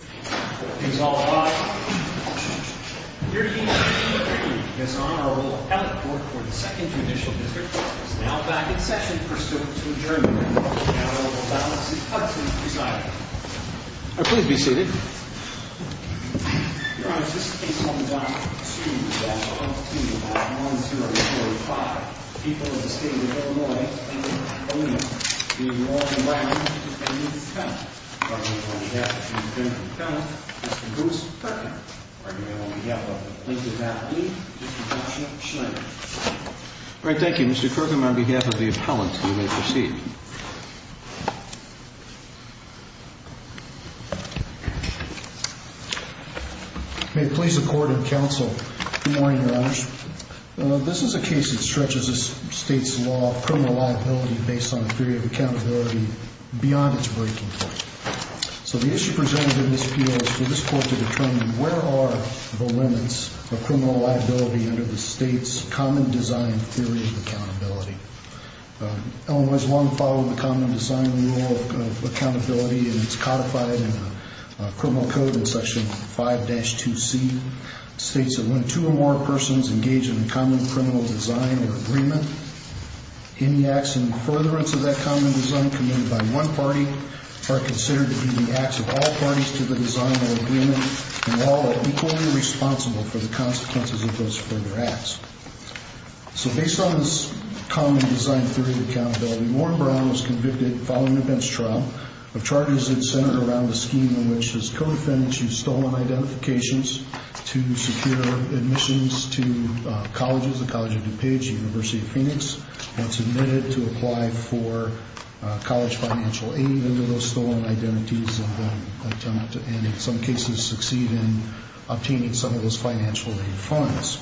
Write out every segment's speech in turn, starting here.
Court is now back in session for students to adjourn the hearing, and I will allow the seat cuts to be decided. Please be seated. Your Honor, this case comes on a student's behalf. On page 145, the people of the state of Illinois, Illinois, New York, and Brown County, Mr. Bruce Perkin, on behalf of the plaintiff's attorney, Mr. Joshua Schneider. All right. Thank you, Mr. Perkin. On behalf of the appellant, you may proceed. May it please the Court and Counsel, good morning, Your Honors. This is a case that stretches the state's law of criminal liability based on a theory of accountability beyond its breaking point. So the issue presented in this appeal is for this Court to determine where are the limits of criminal liability under the state's common design theory of accountability. Illinois has long followed the common design rule of accountability, and it's codified in the criminal code in Section 5-2C. It states that when two or more persons engage in a common criminal design or agreement, any acts in furtherance of that common design committed by one party are considered to be the acts of all parties to the design or agreement, and all are equally responsible for the consequences of those further acts. So based on this common design theory of accountability, Warren Brown was convicted, following a bench trial, of charges that centered around a scheme in which his co-defendants used stolen identifications to secure admissions to colleges, the College of DuPage, the University of Phoenix, and submitted to apply for college financial aid under those stolen identities, and in some cases succeed in obtaining some of those financial aid funds.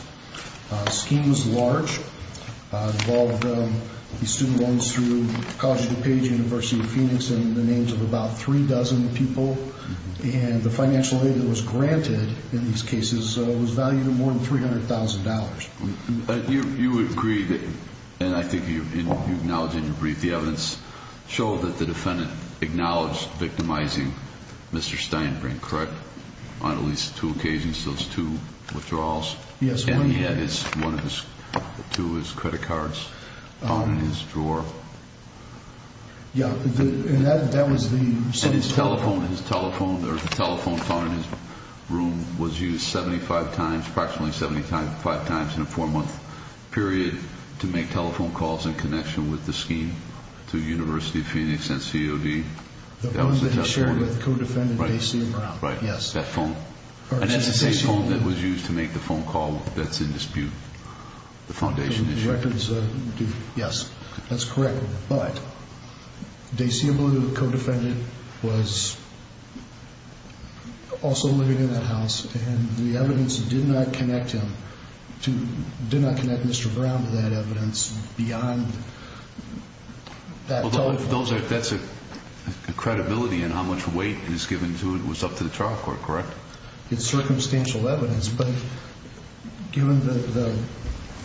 The scheme was large. It involved student loans through the College of DuPage, the University of Phoenix, and the names of about three dozen people, and the financial aid that was granted in these cases was valued at more than $300,000. You agree, and I think you acknowledge in your brief, the evidence showed that the defendant acknowledged victimizing Mr. Steinbrink, correct? On at least two occasions, those two withdrawals? Yes. And he had one of his, two of his credit cards in his drawer. Yeah, and that was the... And his telephone, his telephone, or the telephone phone in his room was used 75 times, approximately 75 times in a four-month period to make telephone calls in connection with the scheme to the University of Phoenix and COD. The phone that he shared with co-defendant J.C. Brown. Right, that phone. And that's the same phone that was used to make the phone call that's in dispute, the foundation issue. Yes, that's correct. But J.C. Brown, the co-defendant, was also living in that house, and the evidence did not connect him to, did not connect Mr. Brown to that evidence beyond that telephone. Those are, that's a credibility in how much weight is given to it was up to the trial court, correct? It's circumstantial evidence, but given the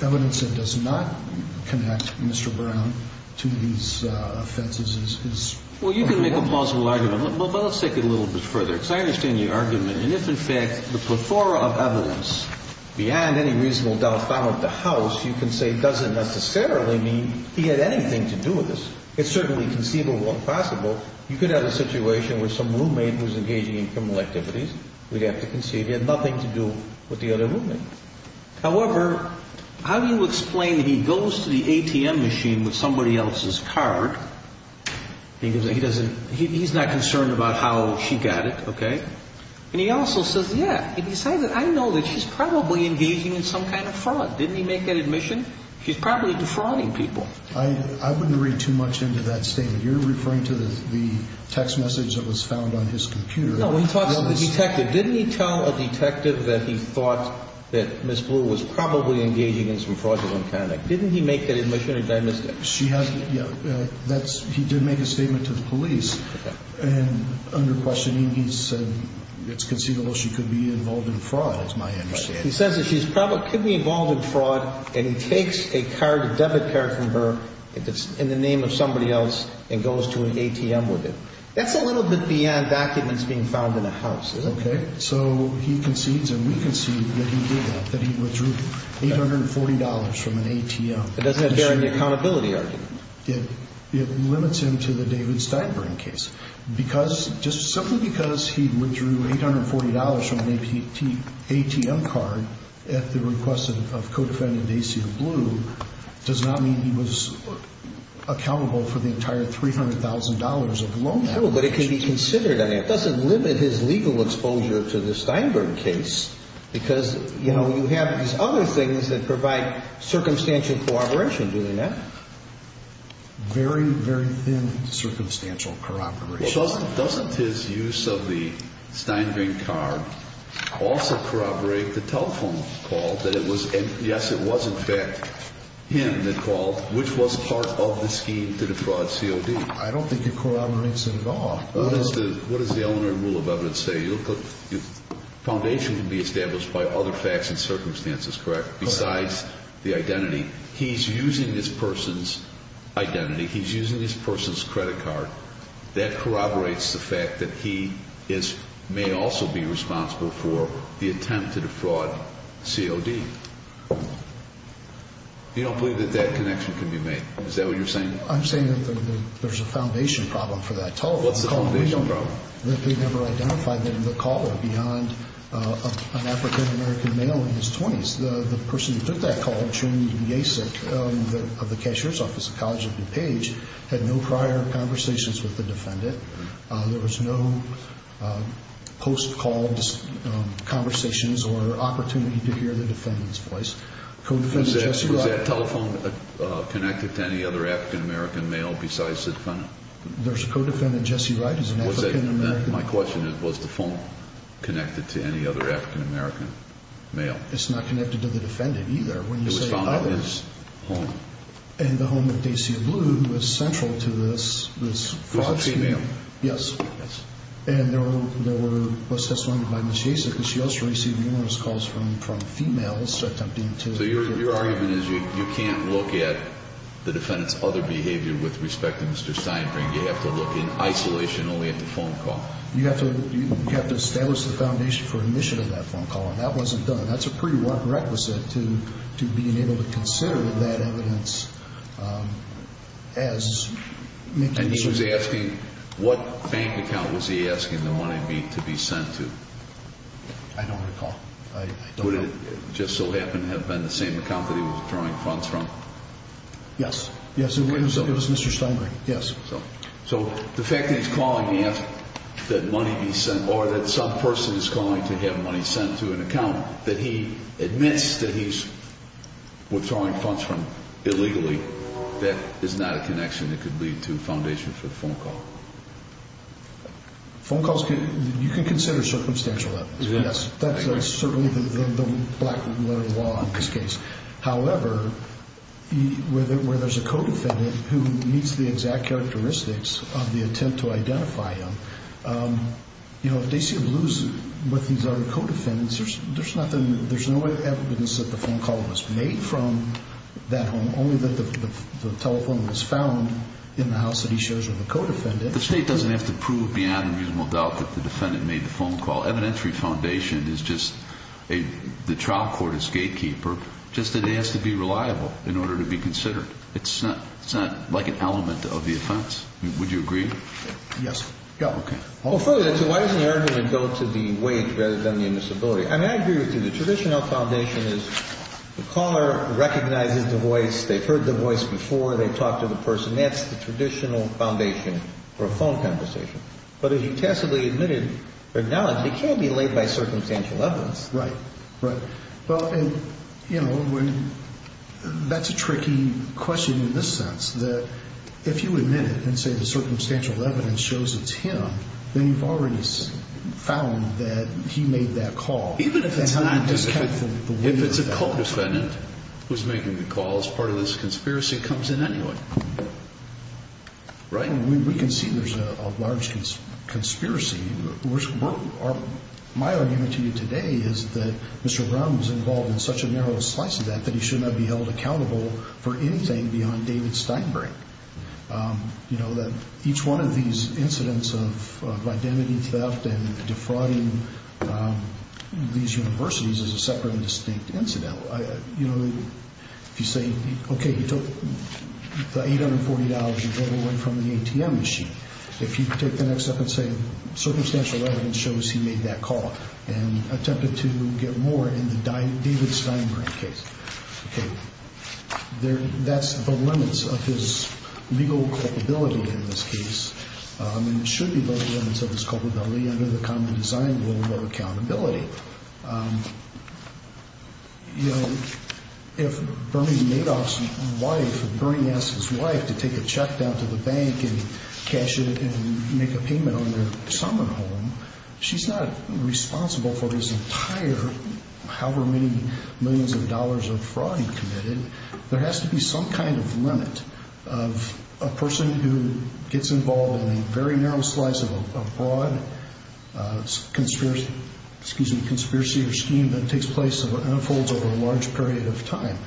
evidence that does not connect Mr. Brown to these offenses is... Well, you can make a plausible argument, but let's take it a little bit further. Because I understand the argument, and if in fact the plethora of evidence beyond any reasonable doubt found at the house, you can say doesn't necessarily mean he had anything to do with this. It's certainly conceivable and possible. You could have a situation where some roommate was engaging in criminal activities. We'd have to concede he had nothing to do with the other roommate. However, how do you explain that he goes to the ATM machine with somebody else's card? He doesn't, he's not concerned about how she got it, okay? And he also says, yeah, besides that, I know that she's probably engaging in some kind of fraud. Didn't he make that admission? She's probably defrauding people. I wouldn't read too much into that statement. You're referring to the text message that was found on his computer. No, he talks to the detective. Didn't he tell a detective that he thought that Ms. Blue was probably engaging in some fraudulent conduct? Didn't he make that admission or did I miss that? She has, yeah, that's, he did make a statement to the police. Okay. And under questioning, he said it's conceivable she could be involved in fraud. That's my understanding. He says that she could be involved in fraud and he takes a card, a debit card from her, and it's in the name of somebody else and goes to an ATM with it. That's a little bit beyond documents being found in a house, isn't it? Okay, so he concedes and we concede that he did that, that he withdrew $840 from an ATM. It doesn't bear any accountability argument. It limits him to the David Steinberg case because, just simply because he withdrew $840 from an ATM card at the request of co-defendant Dacia Blue does not mean he was accountable for the entire $300,000 of loan. No, but it can be considered. It doesn't limit his legal exposure to the Steinberg case because, you know, you have these other things that provide circumstantial corroboration doing that. Very, very thin circumstantial corroboration. Doesn't his use of the Steinberg card also corroborate the telephone call that it was, yes, it was in fact him that called, which was part of the scheme to defraud COD? I don't think it corroborates it at all. What does the Eleanor Rule of Evidence say? The foundation can be established by other facts and circumstances, correct, besides the identity. He's using this person's identity. He's using this person's credit card. That corroborates the fact that he may also be responsible for the attempt to defraud COD. You don't believe that that connection can be made? Is that what you're saying? I'm saying that there's a foundation problem for that telephone call. What's the foundation problem? That they never identified the caller beyond an African-American male in his 20s. The person who took that call, Jim Yacek, of the cashier's office at College of DuPage, had no prior conversations with the defendant. There was no post-call conversations or opportunity to hear the defendant's voice. Was that telephone connected to any other African-American male besides the defendant? There's a co-defendant, Jesse Wright, who's an African-American male. My question is, was the phone connected to any other African-American male? It's not connected to the defendant, either. It was found in his home. In the home of Dacia Blue, who was central to this fraud scheme. It was a female. Yes. And there was testimony by Ms. Yacek. She also received numerous calls from females. So your argument is you can't look at the defendant's other behavior with respect to Mr. Steinbrink. You have to look in isolation only at the phone call. You have to establish the foundation for admission of that phone call. And that wasn't done. That's a pretty rough requisite to being able to consider that evidence. And he was asking, what bank account was he asking the money to be sent to? I don't recall. Would it just so happen to have been the same account that he was drawing funds from? Yes. It was Mr. Steinbrink. Yes. So the fact that he's calling to ask that money be sent, or that some person is calling to have money sent to an account, that he admits that he's withdrawing funds from illegally, that is not a connection that could lead to a foundation for the phone call. Phone calls, you can consider circumstantial evidence. Yes. That's certainly the black letter law in this case. However, where there's a co-defendant who meets the exact characteristics of the attempt to identify him, if they seem to lose what these other co-defendants, there's no evidence that the phone call was made from that home, only that the telephone was found in the house that he shares with the co-defendant. The State doesn't have to prove beyond reasonable doubt that the defendant made the phone call. The phone call evidentiary foundation is just the trial court's gatekeeper, just that it has to be reliable in order to be considered. It's not like an element of the offense. Would you agree? Yes. Okay. Well, further, why doesn't the argument go to the wage rather than the invisibility? I mean, I agree with you. The traditional foundation is the caller recognizes the voice, they've heard the voice before, they've talked to the person. That's the traditional foundation for a phone conversation. But if he tacitly admitted their knowledge, it can't be laid by circumstantial evidence. Right. Right. Well, and, you know, that's a tricky question in this sense, that if you admit it and say the circumstantial evidence shows it's him, then you've already found that he made that call. Even if it's not his call. If it's a co-defendant who's making the call as part of this conspiracy, it comes in anyway. Right? Well, we can see there's a large conspiracy. My argument to you today is that Mr. Brown was involved in such a narrow slice of that that he should not be held accountable for anything beyond David Steinberg. You know, each one of these incidents of identity theft and defrauding these universities is a separate and distinct incident. You know, if you say, okay, you took the $840 and gave it away from the ATM machine, if you take the next step and say circumstantial evidence shows he made that call and attempted to get more in the David Steinberg case, that's the limits of his legal culpability in this case. And it should be the limits of his culpability under the common design rule of accountability. You know, if Bernie Madoff's wife, if Bernie asks his wife to take a check down to the bank and cash it and make a payment on their summer home, she's not responsible for this entire however many millions of dollars of fraud he committed. There has to be some kind of limit of a person who gets involved in a very narrow slice of a broad conspiracy or scheme that takes place and unfolds over a large period of time.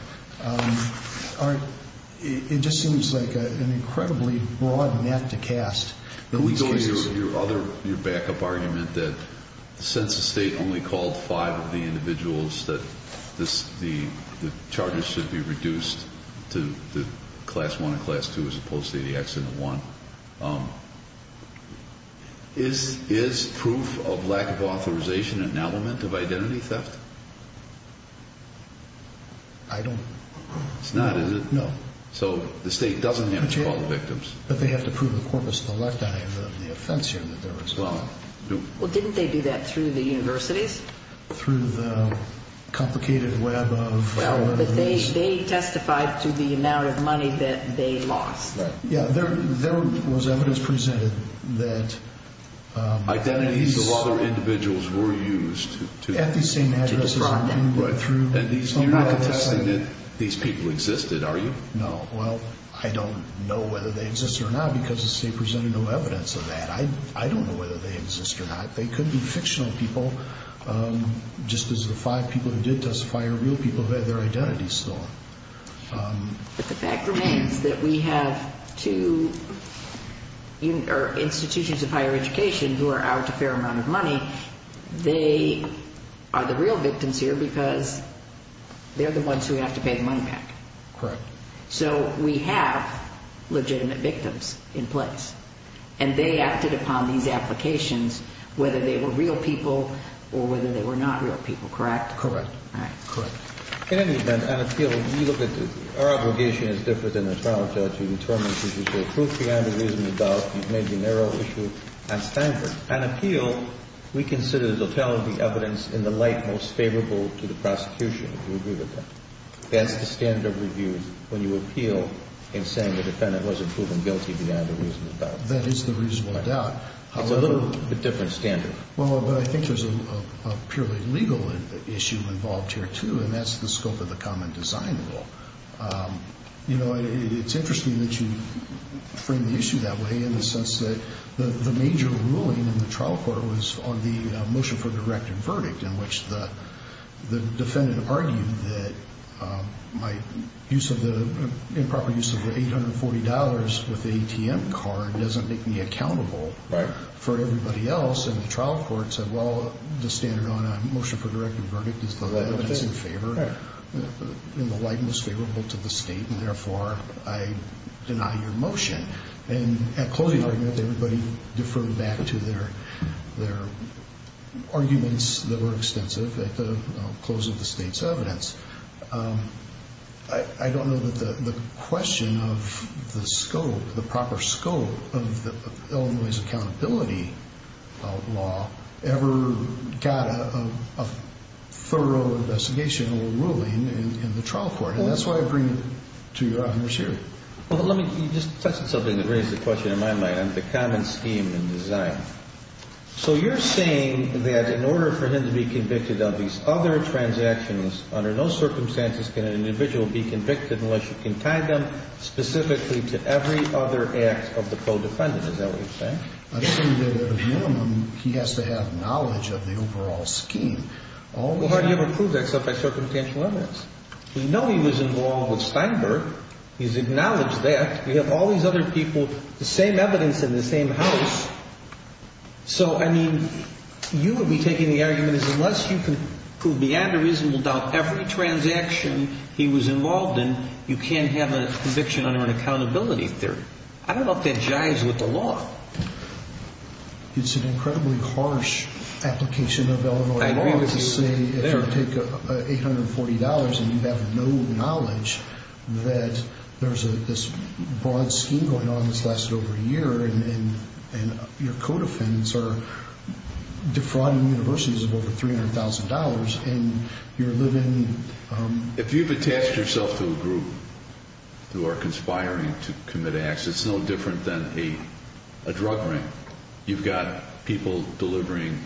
It just seems like an incredibly broad net to cast in these cases. Your backup argument that since the state only called five of the individuals that the charges should be reduced to the class one and class two as opposed to the accident one, is proof of lack of authorization an element of identity theft? I don't know. It's not, is it? No. So the state doesn't have to call the victims. But they have to prove the corpus electi of the offense here that they're responsible. Well, didn't they do that through the universities? Through the complicated web of... No, but they testified to the amount of money that they lost. Yeah, there was evidence presented that... Identities of other individuals were used to defraud them. At the same address as you, but through... You're not contesting that these people existed, are you? No. Well, I don't know whether they exist or not because the state presented no evidence of that. I don't know whether they exist or not. They could be fictional people, just as the five people who did testify are real people who had their identities stolen. But the fact remains that we have two institutions of higher education who are out a fair amount of money. They are the real victims here because they're the ones who have to pay the money back. Correct. So we have legitimate victims in place, and they acted upon these applications whether they were real people or whether they were not real people, correct? Correct. All right, good. In any event, an appeal, you look at the... Our obligation is different than the trial judge to determine if this is the truth beyond a reasonable doubt. It may be a narrow issue at Stanford. An appeal, we consider the telling of the evidence in the light most favorable to the prosecution, if you agree with that. That's the standard of review when you appeal in saying the defendant wasn't proven guilty beyond a reasonable doubt. That is the reasonable doubt. It's a little bit different standard. Well, but I think there's a purely legal issue involved here, too, and that's the scope of the common design rule. You know, it's interesting that you frame the issue that way in the sense that the major ruling in the trial court was on the motion for direct verdict in which the defendant argued that my improper use of the $840 with the ATM card doesn't make me accountable for everybody else, and the trial court said, well, the standard on a motion for direct verdict is the evidence in favor in the light most favorable to the state, and therefore, I deny your motion. And at closing argument, everybody deferred back to their arguments that were extensive at the close of the state's evidence. I don't know that the question of the scope, the proper scope of Illinois' accountability law ever got a thorough investigational ruling in the trial court, and that's why I bring it to your attention. Well, let me just touch on something that raised the question in my mind on the common scheme and design. So you're saying that in order for him to be convicted of these other transactions, under no circumstances can an individual be convicted unless you can tie them specifically to every other act of the co-defendant. Is that what you're saying? I'm saying that at a minimum, he has to have knowledge of the overall scheme. Well, how do you ever prove that except by circumstantial evidence? We know he was involved with Steinberg. He's acknowledged that. We have all these other people, the same evidence in the same house, so, I mean, you would be taking the argument as unless you can prove beyond a reasonable doubt every transaction he was involved in, you can't have a conviction under an accountability theory. I don't know if that jives with the law. It's an incredibly harsh application of Illinois law to say if you take $840 and you have no knowledge that there's this broad scheme going on that's lasted over a year and your co-defendants are defrauding universities of over $300,000 and you're living... If you've attached yourself to a group who are conspiring to commit acts, it's no different than a drug ring. You've got people delivering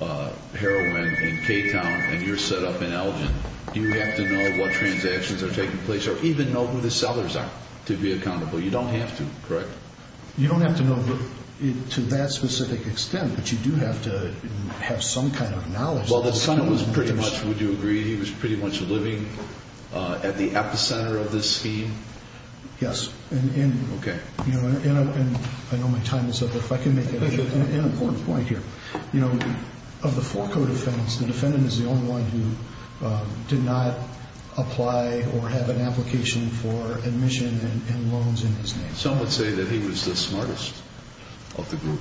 heroin in K-Town and you're set up in Elgin. You have to know what transactions are taking place or even know who the sellers are to be accountable. You don't have to, correct? You don't have to know to that specific extent, but you do have to have some kind of knowledge. Well, the defendant was pretty much, would you agree, he was pretty much living at the epicenter of this scheme? Yes. Okay. And I know my time is up, but if I can make an important point here. Of the four co-defendants, the defendant is the only one who did not apply or have an application for admission and loans in his name. Some would say that he was the smartest of the group.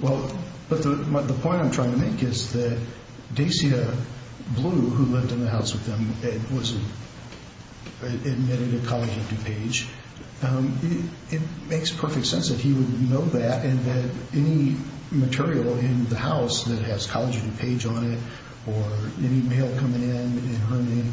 Well, but the point I'm trying to make is that Dacia Blue, who lived in the house with them and was admitted to College of DuPage, it makes perfect sense that he would know that and that any material in the house that has College of DuPage on it or any mail coming in in her name,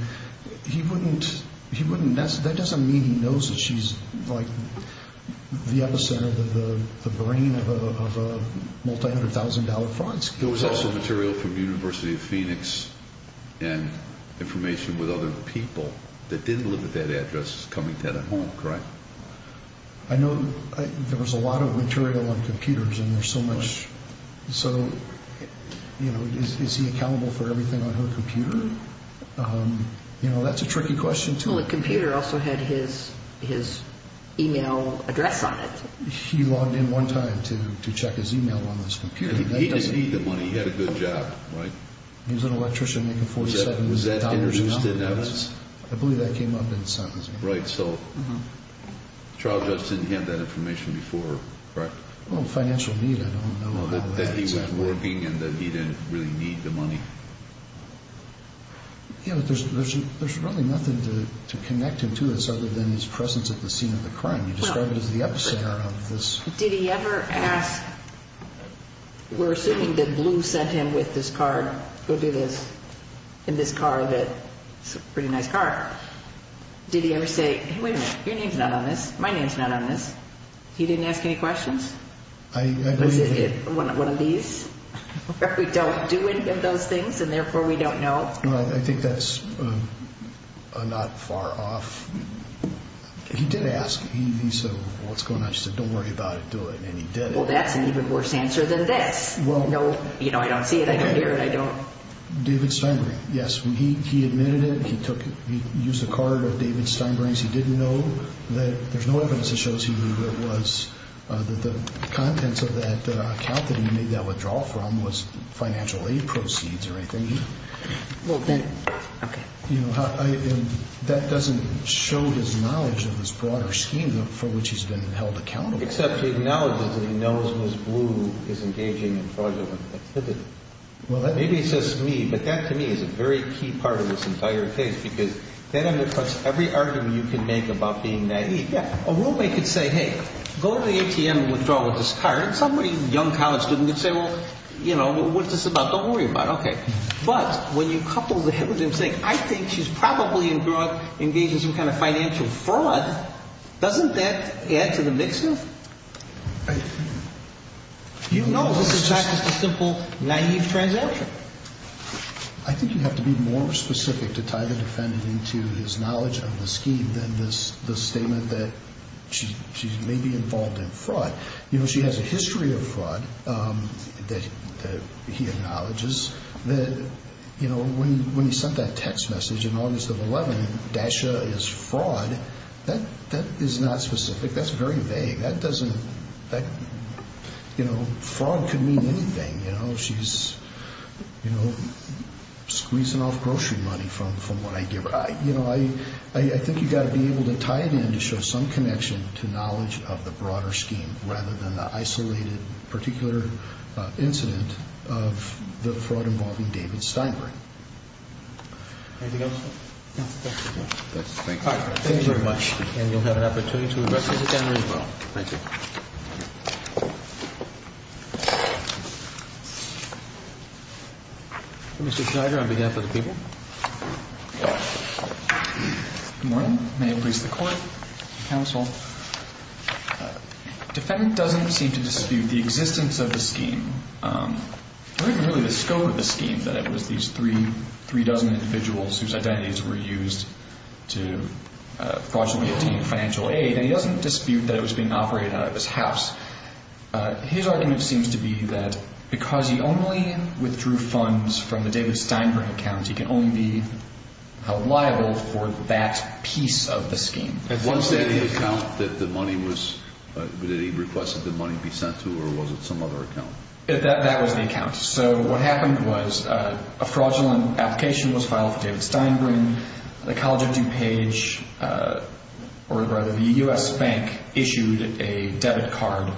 that doesn't mean he knows that she's the epicenter, the brain of a multi-hundred-thousand-dollar fraud scheme. There was also material from University of Phoenix and information with other people that didn't live at that address coming to that home, correct? I know there was a lot of material on computers and there's so much. So, you know, is he accountable for everything on her computer? You know, that's a tricky question, too. Well, the computer also had his e-mail address on it. He logged in one time to check his e-mail on this computer. He didn't need the money. He had a good job, right? He was an electrician making $4,700 a month. Was that introduced in evidence? I believe that came up in sentencing. Right, so the trial judge didn't have that information before, correct? Well, financial need, I don't know how that's working. That he was working and that he didn't really need the money. Yeah, but there's really nothing to connect him to other than his presence at the scene of the crime. You described it as the epicenter of this. Did he ever ask, we're assuming that Blue sent him with this card, go do this, in this car that, it's a pretty nice car, did he ever say, wait a minute, your name's not on this, my name's not on this? He didn't ask any questions? Was it one of these, where we don't do any of those things and therefore we don't know? I think that's not far off. He did ask, he said, what's going on? She said, don't worry about it, do it, and he did it. Well, that's an even worse answer than this. No, I don't see it, I don't hear it, I don't... David Steinbring, yes, he admitted it. He used a card of David Steinbring's. He didn't know that, there's no evidence that shows he knew who it was, that the contents of that account that he made that withdrawal from was financial aid proceeds or anything. Well, then, okay. You know, that doesn't show his knowledge of this broader scheme for which he's been held accountable. Except he acknowledges that he knows Ms. Blue is engaging in fraudulent activity. Maybe it's just me, but that to me is a very key part of this entire case because that undercuts every argument you can make about being naive. A roommate could say, hey, go to the ATM and withdraw this card. Somebody, a young college student, could say, well, you know, what's this about? Don't worry about it. Okay. But when you couple the head with him saying, I think she's probably engaged in some kind of financial fraud, doesn't that add to the mix here? You know this is not just a simple naive transaction. I think you have to be more specific to tie the defendant into his knowledge of the scheme than the statement that she may be involved in fraud. You know, she has a history of fraud that he acknowledges. You know, when he sent that text message in August of 2011, Dasha is fraud, that is not specific. That's very vague. That doesn't, you know, fraud could mean anything. You know, she's, you know, squeezing off grocery money from what I give her. You know, I think you've got to be able to tie it in to show some connection to knowledge of the broader scheme rather than the isolated particular incident of the fraud involving David Steinberg. Anything else? No. Thank you. All right. Thank you very much. And you'll have an opportunity to address us again as well. Thank you. Mr. Snyder, on behalf of the people. Good morning. May it please the Court and counsel. The defendant doesn't seem to dispute the existence of the scheme. I don't think really the scope of the scheme that it was these three dozen individuals whose identities were used to fraudulently obtain financial aid, and he doesn't dispute that it was being operated out of his house. His argument seems to be that because he only withdrew funds from the David Steinberg account, he can only be held liable for that piece of the scheme. Was that the account that the money was, that he requested the money be sent to, or was it some other account? That was the account. So what happened was a fraudulent application was filed for David Steinberg. The College of DuPage, or rather the U.S. Bank, issued a debit card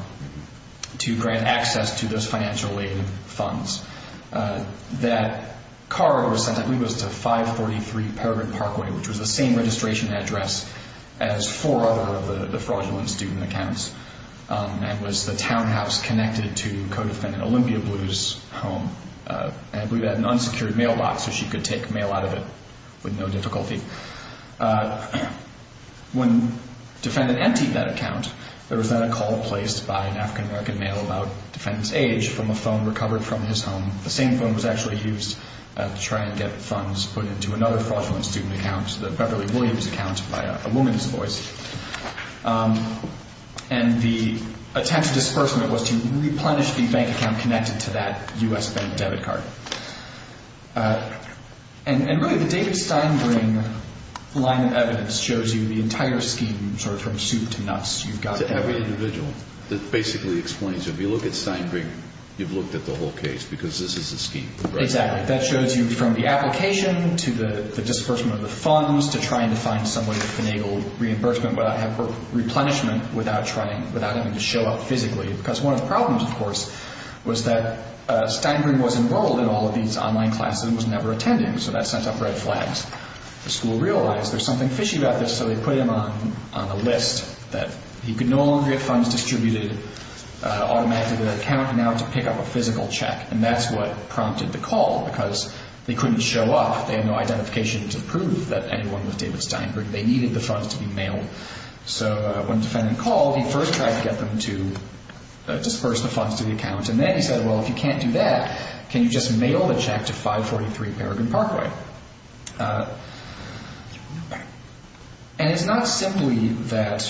to grant access to those financial aid funds. That card was sent, I believe it was to 543 Peregrine Parkway, which was the same registration address as four other of the fraudulent student accounts, and was the townhouse connected to co-defendant Olympia Blue's home. And we had an unsecured mailbox so she could take mail out of it with no difficulty. When defendant emptied that account, there was then a call placed by an African American male about defendant's age from a phone recovered from his home. The same phone was actually used to try and get funds put into another fraudulent student account, the Beverly Williams account, by a woman's voice. And the attempt at disbursement was to replenish the bank account connected to that U.S. Bank debit card. And really the David Steinberg line of evidence shows you the entire scheme, sort of from soup to nuts. To every individual. That basically explains it. If you look at Steinberg, you've looked at the whole case because this is the scheme. Exactly. That shows you from the application to the disbursement of the funds to trying to find some way to enable reimbursement, replenishment without having to show up physically. Because one of the problems, of course, was that Steinberg was enrolled in all of these online classes and was never attending, so that sent up red flags. The school realized there's something fishy about this, so they put him on a list that he could no longer get funds distributed automatically to the account, and now to pick up a physical check. And that's what prompted the call, because they couldn't show up. They had no identification to prove that anyone was David Steinberg. They needed the funds to be mailed. So when the defendant called, he first tried to get them to disburse the funds to the account, and then he said, well, if you can't do that, can you just mail the check to 543 Bergen Parkway? And it's not simply that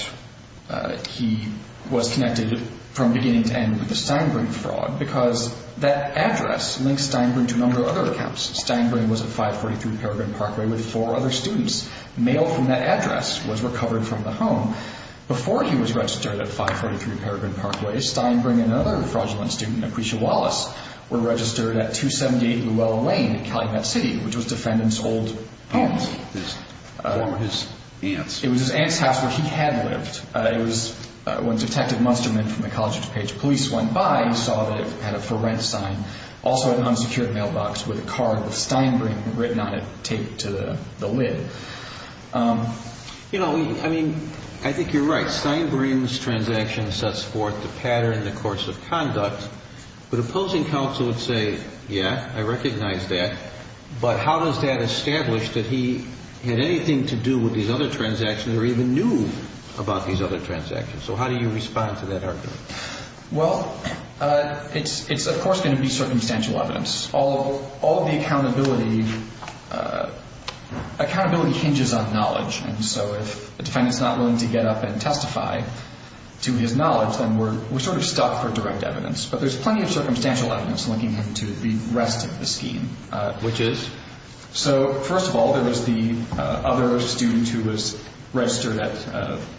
he was connected from beginning to end with the Steinberg fraud, because that address links Steinberg to a number of other accounts. Steinberg was at 543 Bergen Parkway with four other students. Mail from that address was recovered from the home. Before he was registered at 543 Bergen Parkway, Steinberg and another fraudulent student, Aprecia Wallace, were registered at 278 Luella Lane in Calumet City, which was the defendant's old home. What were his aunts? It was his aunt's house where he had lived. When Detective Musterman from the College of DuPage Police went by, he saw that it had a for rent sign. Also an unsecured mailbox with a card with Steinberg written on it taped to the lid. You know, I mean, I think you're right. Steinberg's transaction sets forth the pattern and the course of conduct, but opposing counsel would say, yeah, I recognize that, but how does that establish that he had anything to do with these other transactions or even knew about these other transactions? So how do you respond to that argument? Well, it's of course going to be circumstantial evidence. All of the accountability hinges on knowledge, and so if the defendant's not willing to get up and testify to his knowledge, then we're sort of stuck for direct evidence. But there's plenty of circumstantial evidence linking him to the rest of the scheme, which is, So first of all, there was the other student who was registered at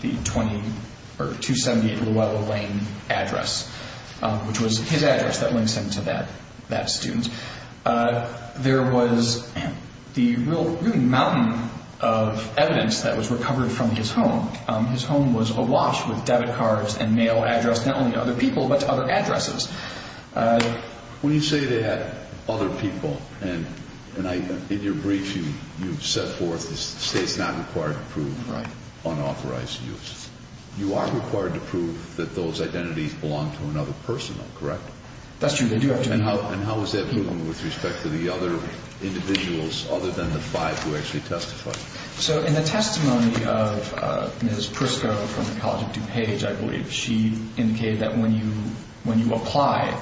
the 278 Luella Lane address, which was his address that links him to that student. There was the real mountain of evidence that was recovered from his home. His home was awash with debit cards and mail addressed not only to other people but to other addresses. When you say they had other people, and in your brief you set forth the state's not required to prove unauthorized use. You are required to prove that those identities belong to another person, though, correct? That's true. They do have to be. And how is that proven with respect to the other individuals other than the five who actually testified? So in the testimony of Ms. Prisco from the College of DuPage, I believe, she indicated that when you apply,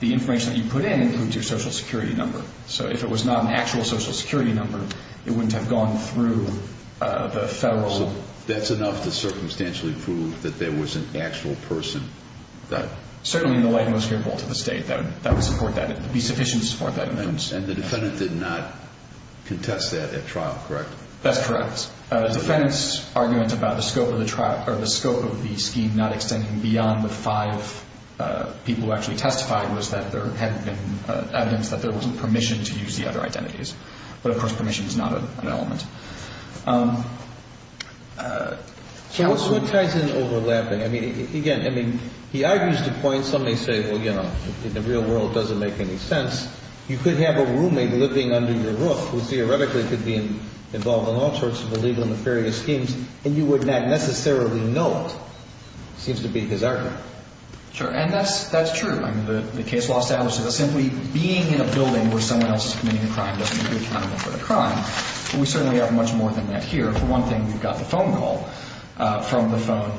the information that you put in includes your Social Security number. So if it was not an actual Social Security number, it wouldn't have gone through the federal. So that's enough to circumstantially prove that there was an actual person? Certainly in the light most capable to the state, that would support that. It would be sufficient to support that evidence. And the defendant did not contest that at trial, correct? That's correct. The defendant's argument about the scope of the scheme not extending beyond the five people who actually testified was that there hadn't been evidence that there wasn't permission to use the other identities. But, of course, permission is not an element. So what ties in overlapping? I mean, again, I mean, he argues the point. Some may say, well, you know, in the real world it doesn't make any sense. You could have a roommate living under your roof who theoretically could be involved in all sorts of illegal and nefarious schemes, and you would not necessarily know it. It seems to be his argument. Sure. And that's true. I mean, the case law establishes that simply being in a building where someone else is committing a crime doesn't make you accountable for the crime. But we certainly have much more than that here. For one thing, we've got the phone call from the phone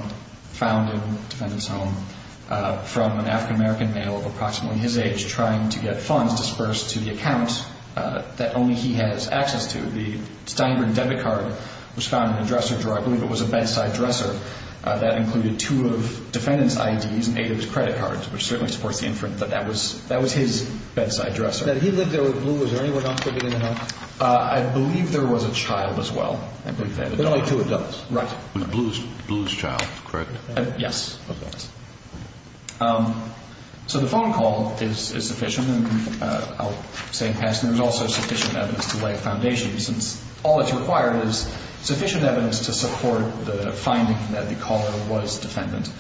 found in the defendant's home from an African-American male of approximately his age who was trying to get funds dispersed to the account that only he has access to. The Steinberg debit card was found in the dresser drawer. I believe it was a bedside dresser. That included two of the defendant's IDs and eight of his credit cards, which certainly supports the inference that that was his bedside dresser. Now, did he live there with Blue? Was there anyone else living in the house? I believe there was a child as well. There were only two adults. Right. It was Blue's child, correct? Yes. Okay. So the phone call is sufficient. I'll say in passing there was also sufficient evidence to lay a foundation, since all that's required is sufficient evidence to support the finding that the caller was defendant.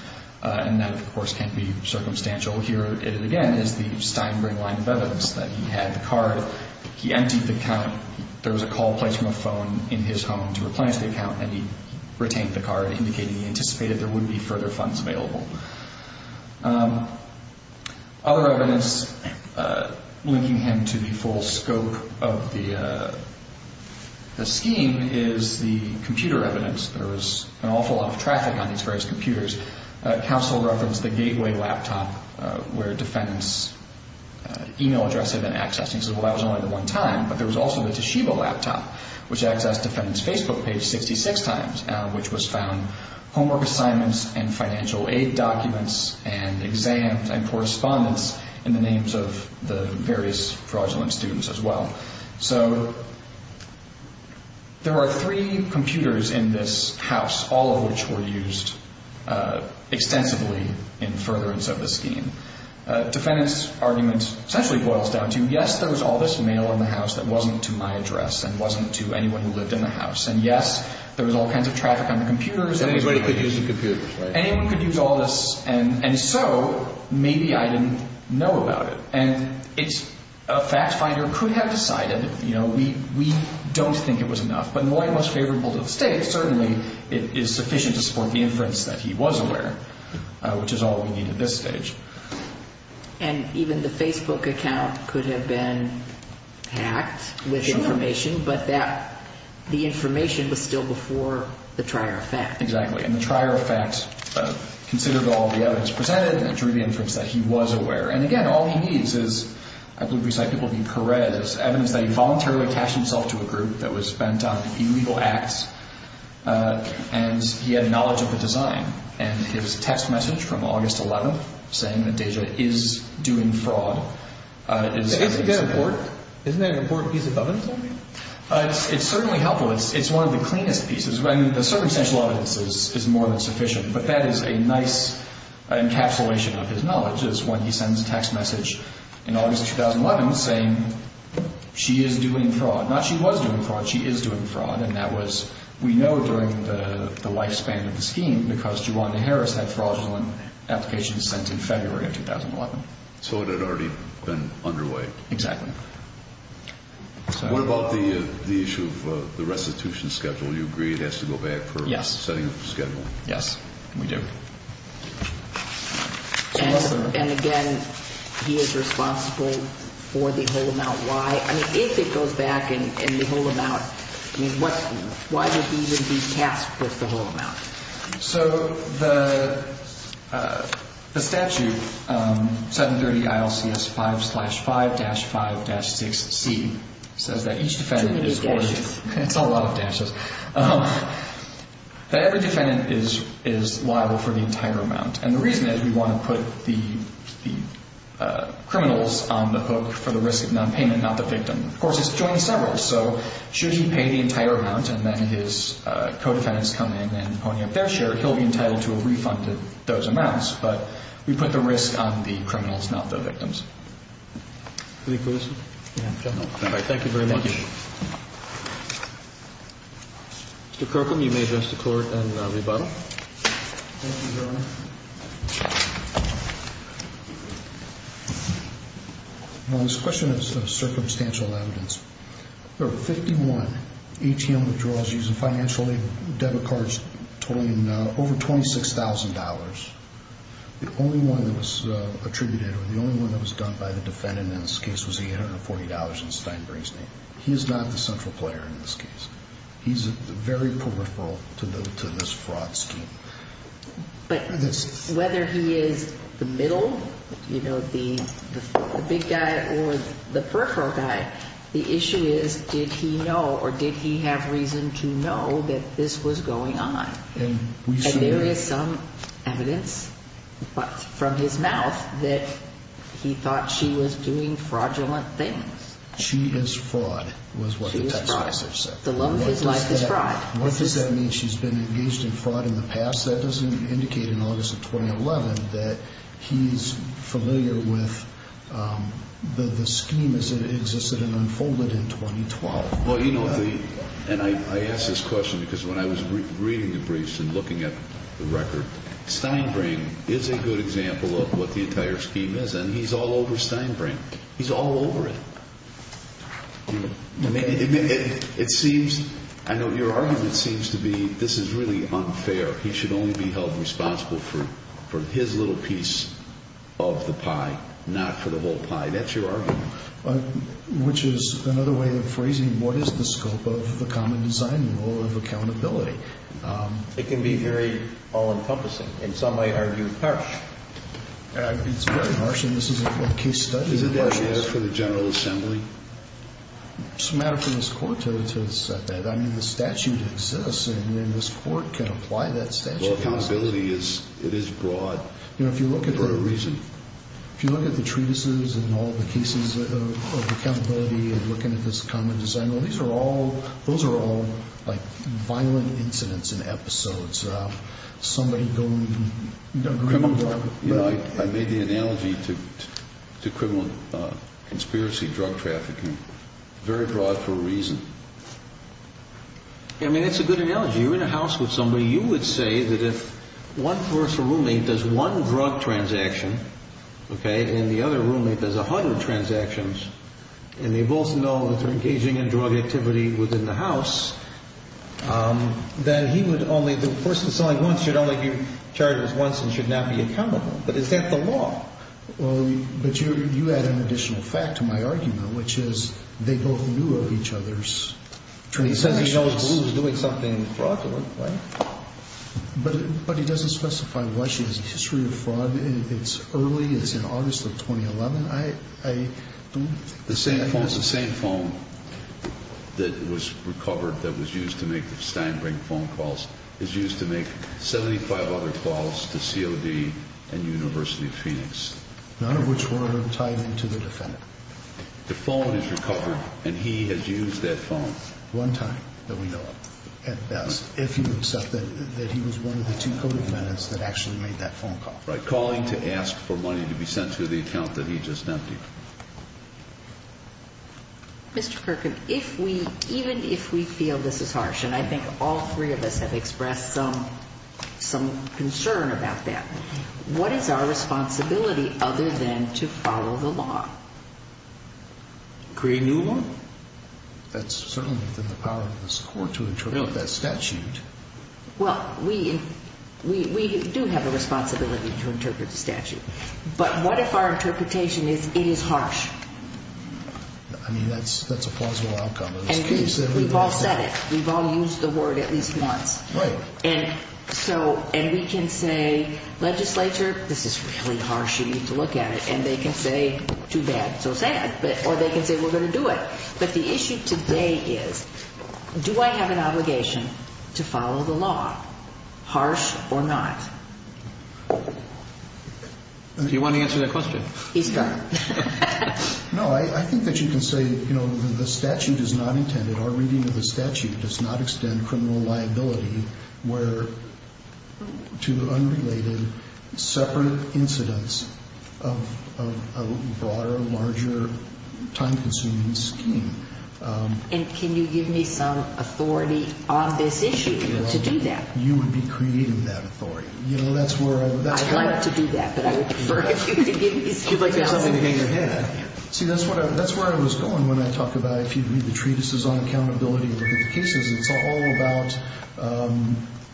And that, of course, can't be circumstantial. Here, again, is the Steinberg line of evidence, that he had the card, he emptied the account, there was a call placed from a phone in his home to replenish the account, and he retained the card, indicating he anticipated there would be further funds available. Other evidence linking him to the full scope of the scheme is the computer evidence. There was an awful lot of traffic on these various computers. Counsel referenced the Gateway laptop, where defendants' e-mail address had been accessed. And he said, well, that was only the one time. But there was also the Toshiba laptop, which accessed defendants' Facebook page 66 times, which was found homework assignments and financial aid documents and exams and correspondence in the names of the various fraudulent students as well. So there are three computers in this house, all of which were used extensively in furtherance of the scheme. Defendant's argument essentially boils down to, yes, there was all this mail in the house that wasn't to my address and wasn't to anyone who lived in the house. And, yes, there was all kinds of traffic on the computers. And anybody could use the computers, right? Anyone could use all this. And so maybe I didn't know about it. And a fact finder could have decided, you know, we don't think it was enough. But in the way it was favorable to the State, certainly it is sufficient to support the inference that he was aware, which is all we need at this stage. And even the Facebook account could have been hacked with information, but the information was still before the trier effect. Exactly. And the trier effect considered all the evidence presented and drew the inference that he was aware. And, again, all he needs is, I believe we cite people named Perez, evidence that he voluntarily attached himself to a group that was bent on illegal acts and he had knowledge of the design. And his text message from August 11th saying that Deja is doing fraud is an example. Isn't that an important piece of evidence? It's certainly helpful. It's one of the cleanest pieces. I mean, the circumstantial evidence is more than sufficient, but that is a nice encapsulation of his knowledge, is when he sends a text message in August of 2011 saying she is doing fraud. Not she was doing fraud. She is doing fraud. And that was, we know, during the lifespan of the scheme because Juwanda Harris had fraudulent applications sent in February of 2011. So it had already been underway. Exactly. What about the issue of the restitution schedule? You agree it has to go back for setting up the schedule? Yes, we do. And, again, he is responsible for the whole amount. If it goes back and the whole amount, why would he even be tasked with the whole amount? So the statute, 730 ILCS 5 slash 5 dash 5 dash 6C, says that each defendant is liable for the entire amount. And the reason is we want to put the criminals on the hook for the risk of nonpayment, not the victim. Of course, he's joined several, so should he pay the entire amount and then his co-defendants come in and pony up their share, he'll be entitled to a refund of those amounts. But we put the risk on the criminals, not the victims. Any questions? No. All right. Thank you very much. Thank you. Mr. Kirkham, you may address the Court and rebuttal. Thank you, Your Honor. This question is circumstantial evidence. There were 51 ATM withdrawals using financial aid debit cards totaling over $26,000. The only one that was attributed or the only one that was done by the defendant in this case was $840 in Steinbrink's name. He is not the central player in this case. He's very peripheral to this fraud scheme. But whether he is the middle, you know, the big guy or the peripheral guy, the issue is did he know or did he have reason to know that this was going on? And there is some evidence from his mouth that he thought she was doing fraudulent things. She is fraud was what the text message said. The love of his life is fraud. What does that mean? She's been engaged in fraud in the past? That doesn't indicate in August of 2011 that he's familiar with the scheme as it existed and unfolded in 2012. Well, you know, and I ask this question because when I was reading the briefs and looking at the record, Steinbrink is a good example of what the entire scheme is, and he's all over Steinbrink. He's all over it. It seems, I know your argument seems to be this is really unfair. He should only be held responsible for his little piece of the pie, not for the whole pie. That's your argument. Which is another way of phrasing what is the scope of the common design rule of accountability. It can be very all-encompassing. In some way argue harsh. It's very harsh, and this is a case study. Is it that you ask for the General Assembly? It's a matter for this court to set that. I mean, the statute exists, and this court can apply that statute. Well, accountability is, it is broad. You know, if you look at the reason, if you look at the treatises and all the cases of accountability and looking at this common design rule, these are all, those are all like violent incidents and episodes. Somebody don't agree with them. You know, I made the analogy to criminal conspiracy drug trafficking. Very broad for a reason. I mean, it's a good analogy. You're in a house with somebody. You would say that if one personal roommate does one drug transaction, okay, and the other roommate does 100 transactions, and they both know that they're engaging in drug activity within the house, that he would only, the person selling one should only do charges once and should not be accountable. But is that the law? Well, but you add an additional fact to my argument, which is they both knew of each other's transactions. He says he knows who was doing something fraudulent, right? But he doesn't specify what his history of fraud. It's early. It's in August of 2011. The same phone, the same phone that was recovered that was used to make the Steinbrink phone calls is used to make 75 other calls to COD and University of Phoenix. None of which were ever tied into the defendant. The phone is recovered, and he has used that phone. One time that we know of, at best, if you accept that he was one of the two co-defendants that actually made that phone call. Right, calling to ask for money to be sent to the account that he just emptied. Mr. Perkin, if we, even if we feel this is harsh, and I think all three of us have expressed some concern about that, what is our responsibility other than to follow the law? Create a new law? That's certainly within the power of this Court to interpret that statute. Well, we do have a responsibility to interpret the statute. But what if our interpretation is it is harsh? I mean, that's a plausible outcome of this case. We've all said it. We've all used the word at least once. Right. And we can say, legislature, this is really harsh. You need to look at it. And they can say, too bad, so sad. Or they can say, we're going to do it. But the issue today is, do I have an obligation to follow the law, harsh or not? Do you want to answer that question? He's got it. No, I think that you can say, you know, the statute is not intended, our reading of the statute does not extend criminal liability where two unrelated, separate incidents of a broader, larger, time-consuming scheme. And can you give me some authority on this issue to do that? You would be creating that authority. You know, that's where I would... I'd like to do that, but I would prefer if you could give me some... You'd like to have something to hang your head at. Yeah. See, that's where I was going when I talked about, if you read the treatises on accountability and limitations, it's all about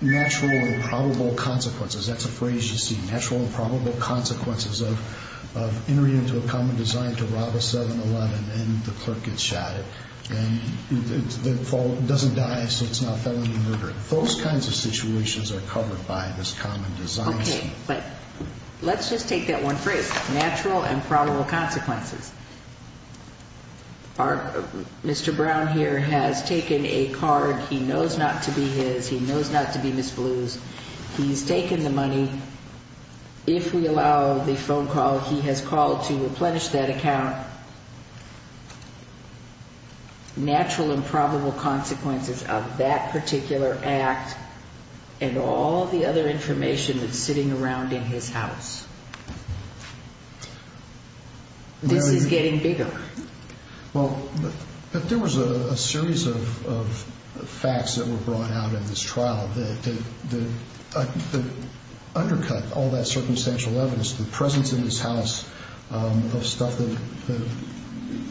natural and probable consequences. That's a phrase you see. Natural and probable consequences of entering into a common design to rob a 7-Eleven and the clerk gets shot at. And the fault doesn't die, so it's not felony murder. Those kinds of situations are covered by this common design. Okay. But let's just take that one phrase, natural and probable consequences. Our... Mr. Brown here has taken a card. He knows not to be his. He knows not to be Ms. Blue's. He's taken the money. If we allow the phone call, he has called to replenish that account. Natural and probable consequences of that particular act and all the other information that's sitting around in his house. This is getting bigger. Well, there was a series of facts that were brought out in this trial that undercut all that circumstantial evidence. The presence in his house of stuff that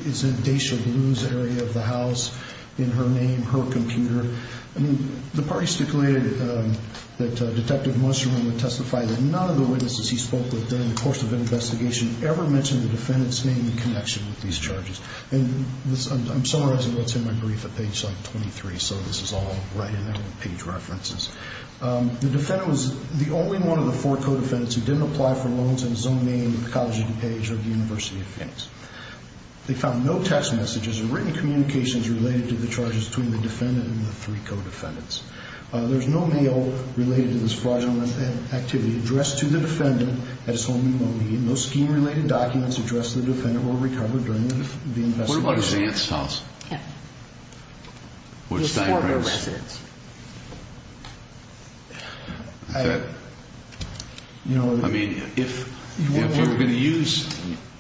is in Daysha Blue's area of the house, in her name, her computer. I mean, the parties declared that Detective Mushroom would testify that none of the witnesses he spoke with during the course of an investigation ever mentioned the defendant's name in connection with these charges. And I'm summarizing what's in my brief at page 23, so this is all right in the page references. The defendant was the only one of the four co-defendants who didn't apply for loans in his own name, the College of DuPage, or the University of Phoenix. They found no text messages or written communications related to the charges between the defendant and the three co-defendants. There's no mail related to this fraudulent activity addressed to the defendant at his home in Mohegan. No scheme-related documents addressed to the defendant were recovered during the investigation. What about his aunt's house? Yeah. His Florida residence. I mean, if they were going to use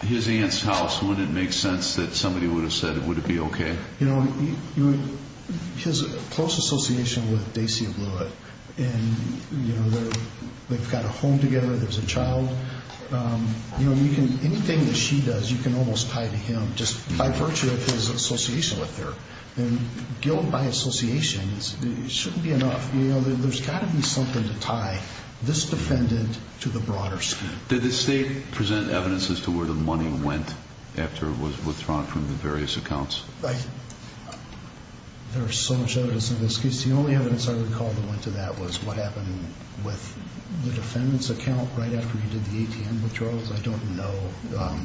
his aunt's house, wouldn't it make sense that somebody would have said, would it be okay? You know, his close association with Daysha Blewett, and, you know, they've got a home together, there's a child. You know, anything that she does, you can almost tie to him just by virtue of his association with her. And guilt by association shouldn't be enough. You know, there's got to be something to tie this defendant to the broader scheme. Did the state present evidence as to where the money went after it was withdrawn from the various accounts? There's so much evidence in this case. The only evidence I recall that went to that was what happened with the defendant's account right after he did the ATM withdrawals. I don't know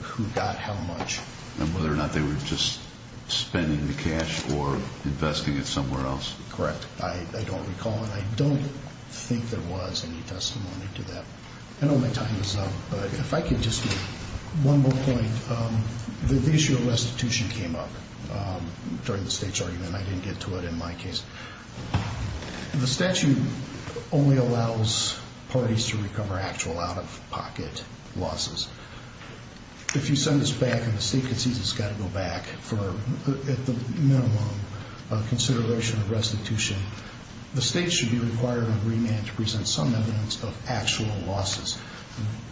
who got how much. And whether or not they were just spending the cash or investing it somewhere else. Correct. I don't recall, and I don't think there was any testimony to that. I know my time is up, but if I could just make one more point. The issue of restitution came up during the state's argument. I didn't get to it in my case. The statute only allows parties to recover actual out-of-pocket losses. If you send this back and the state concedes it's got to go back for, at the minimum, a consideration of restitution, the state should be required on remand to present some evidence of actual losses.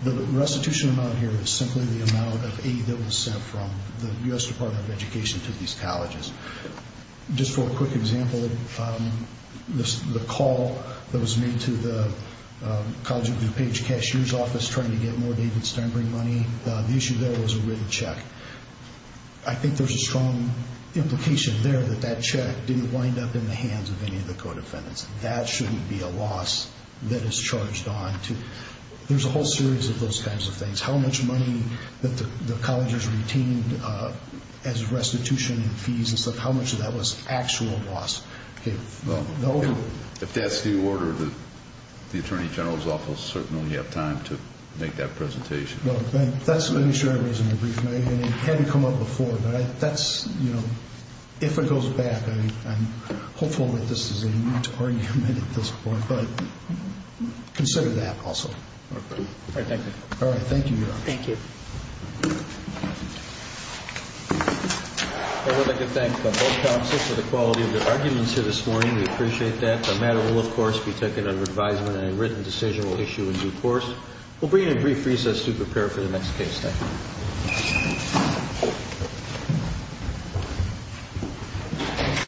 The restitution amount here is simply the amount of aid that was sent from the U.S. Department of Education to these colleges. Just for a quick example, the call that was made to the College of DuPage cashier's office trying to get more David Steinbring money, the issue there was a written check. I think there's a strong implication there that that check didn't wind up in the hands of any of the co-defendants. That shouldn't be a loss that is charged on to. There's a whole series of those kinds of things. How much money that the colleges retained as restitution and fees and stuff, how much of that was actual loss. If that's the order, the Attorney General's office will certainly have time to make that presentation. Let me share a reason. It hadn't come up before. If it goes back, I'm hopeful that this is a new argument at this point, but consider that also. Thank you. All right, thank you, Your Honor. Thank you. I would like to thank both counsels for the quality of their arguments here this morning. We appreciate that. The matter will, of course, be taken under advisement and a written decision will issue in due course. We'll bring you a brief recess to prepare for the next case. Thank you.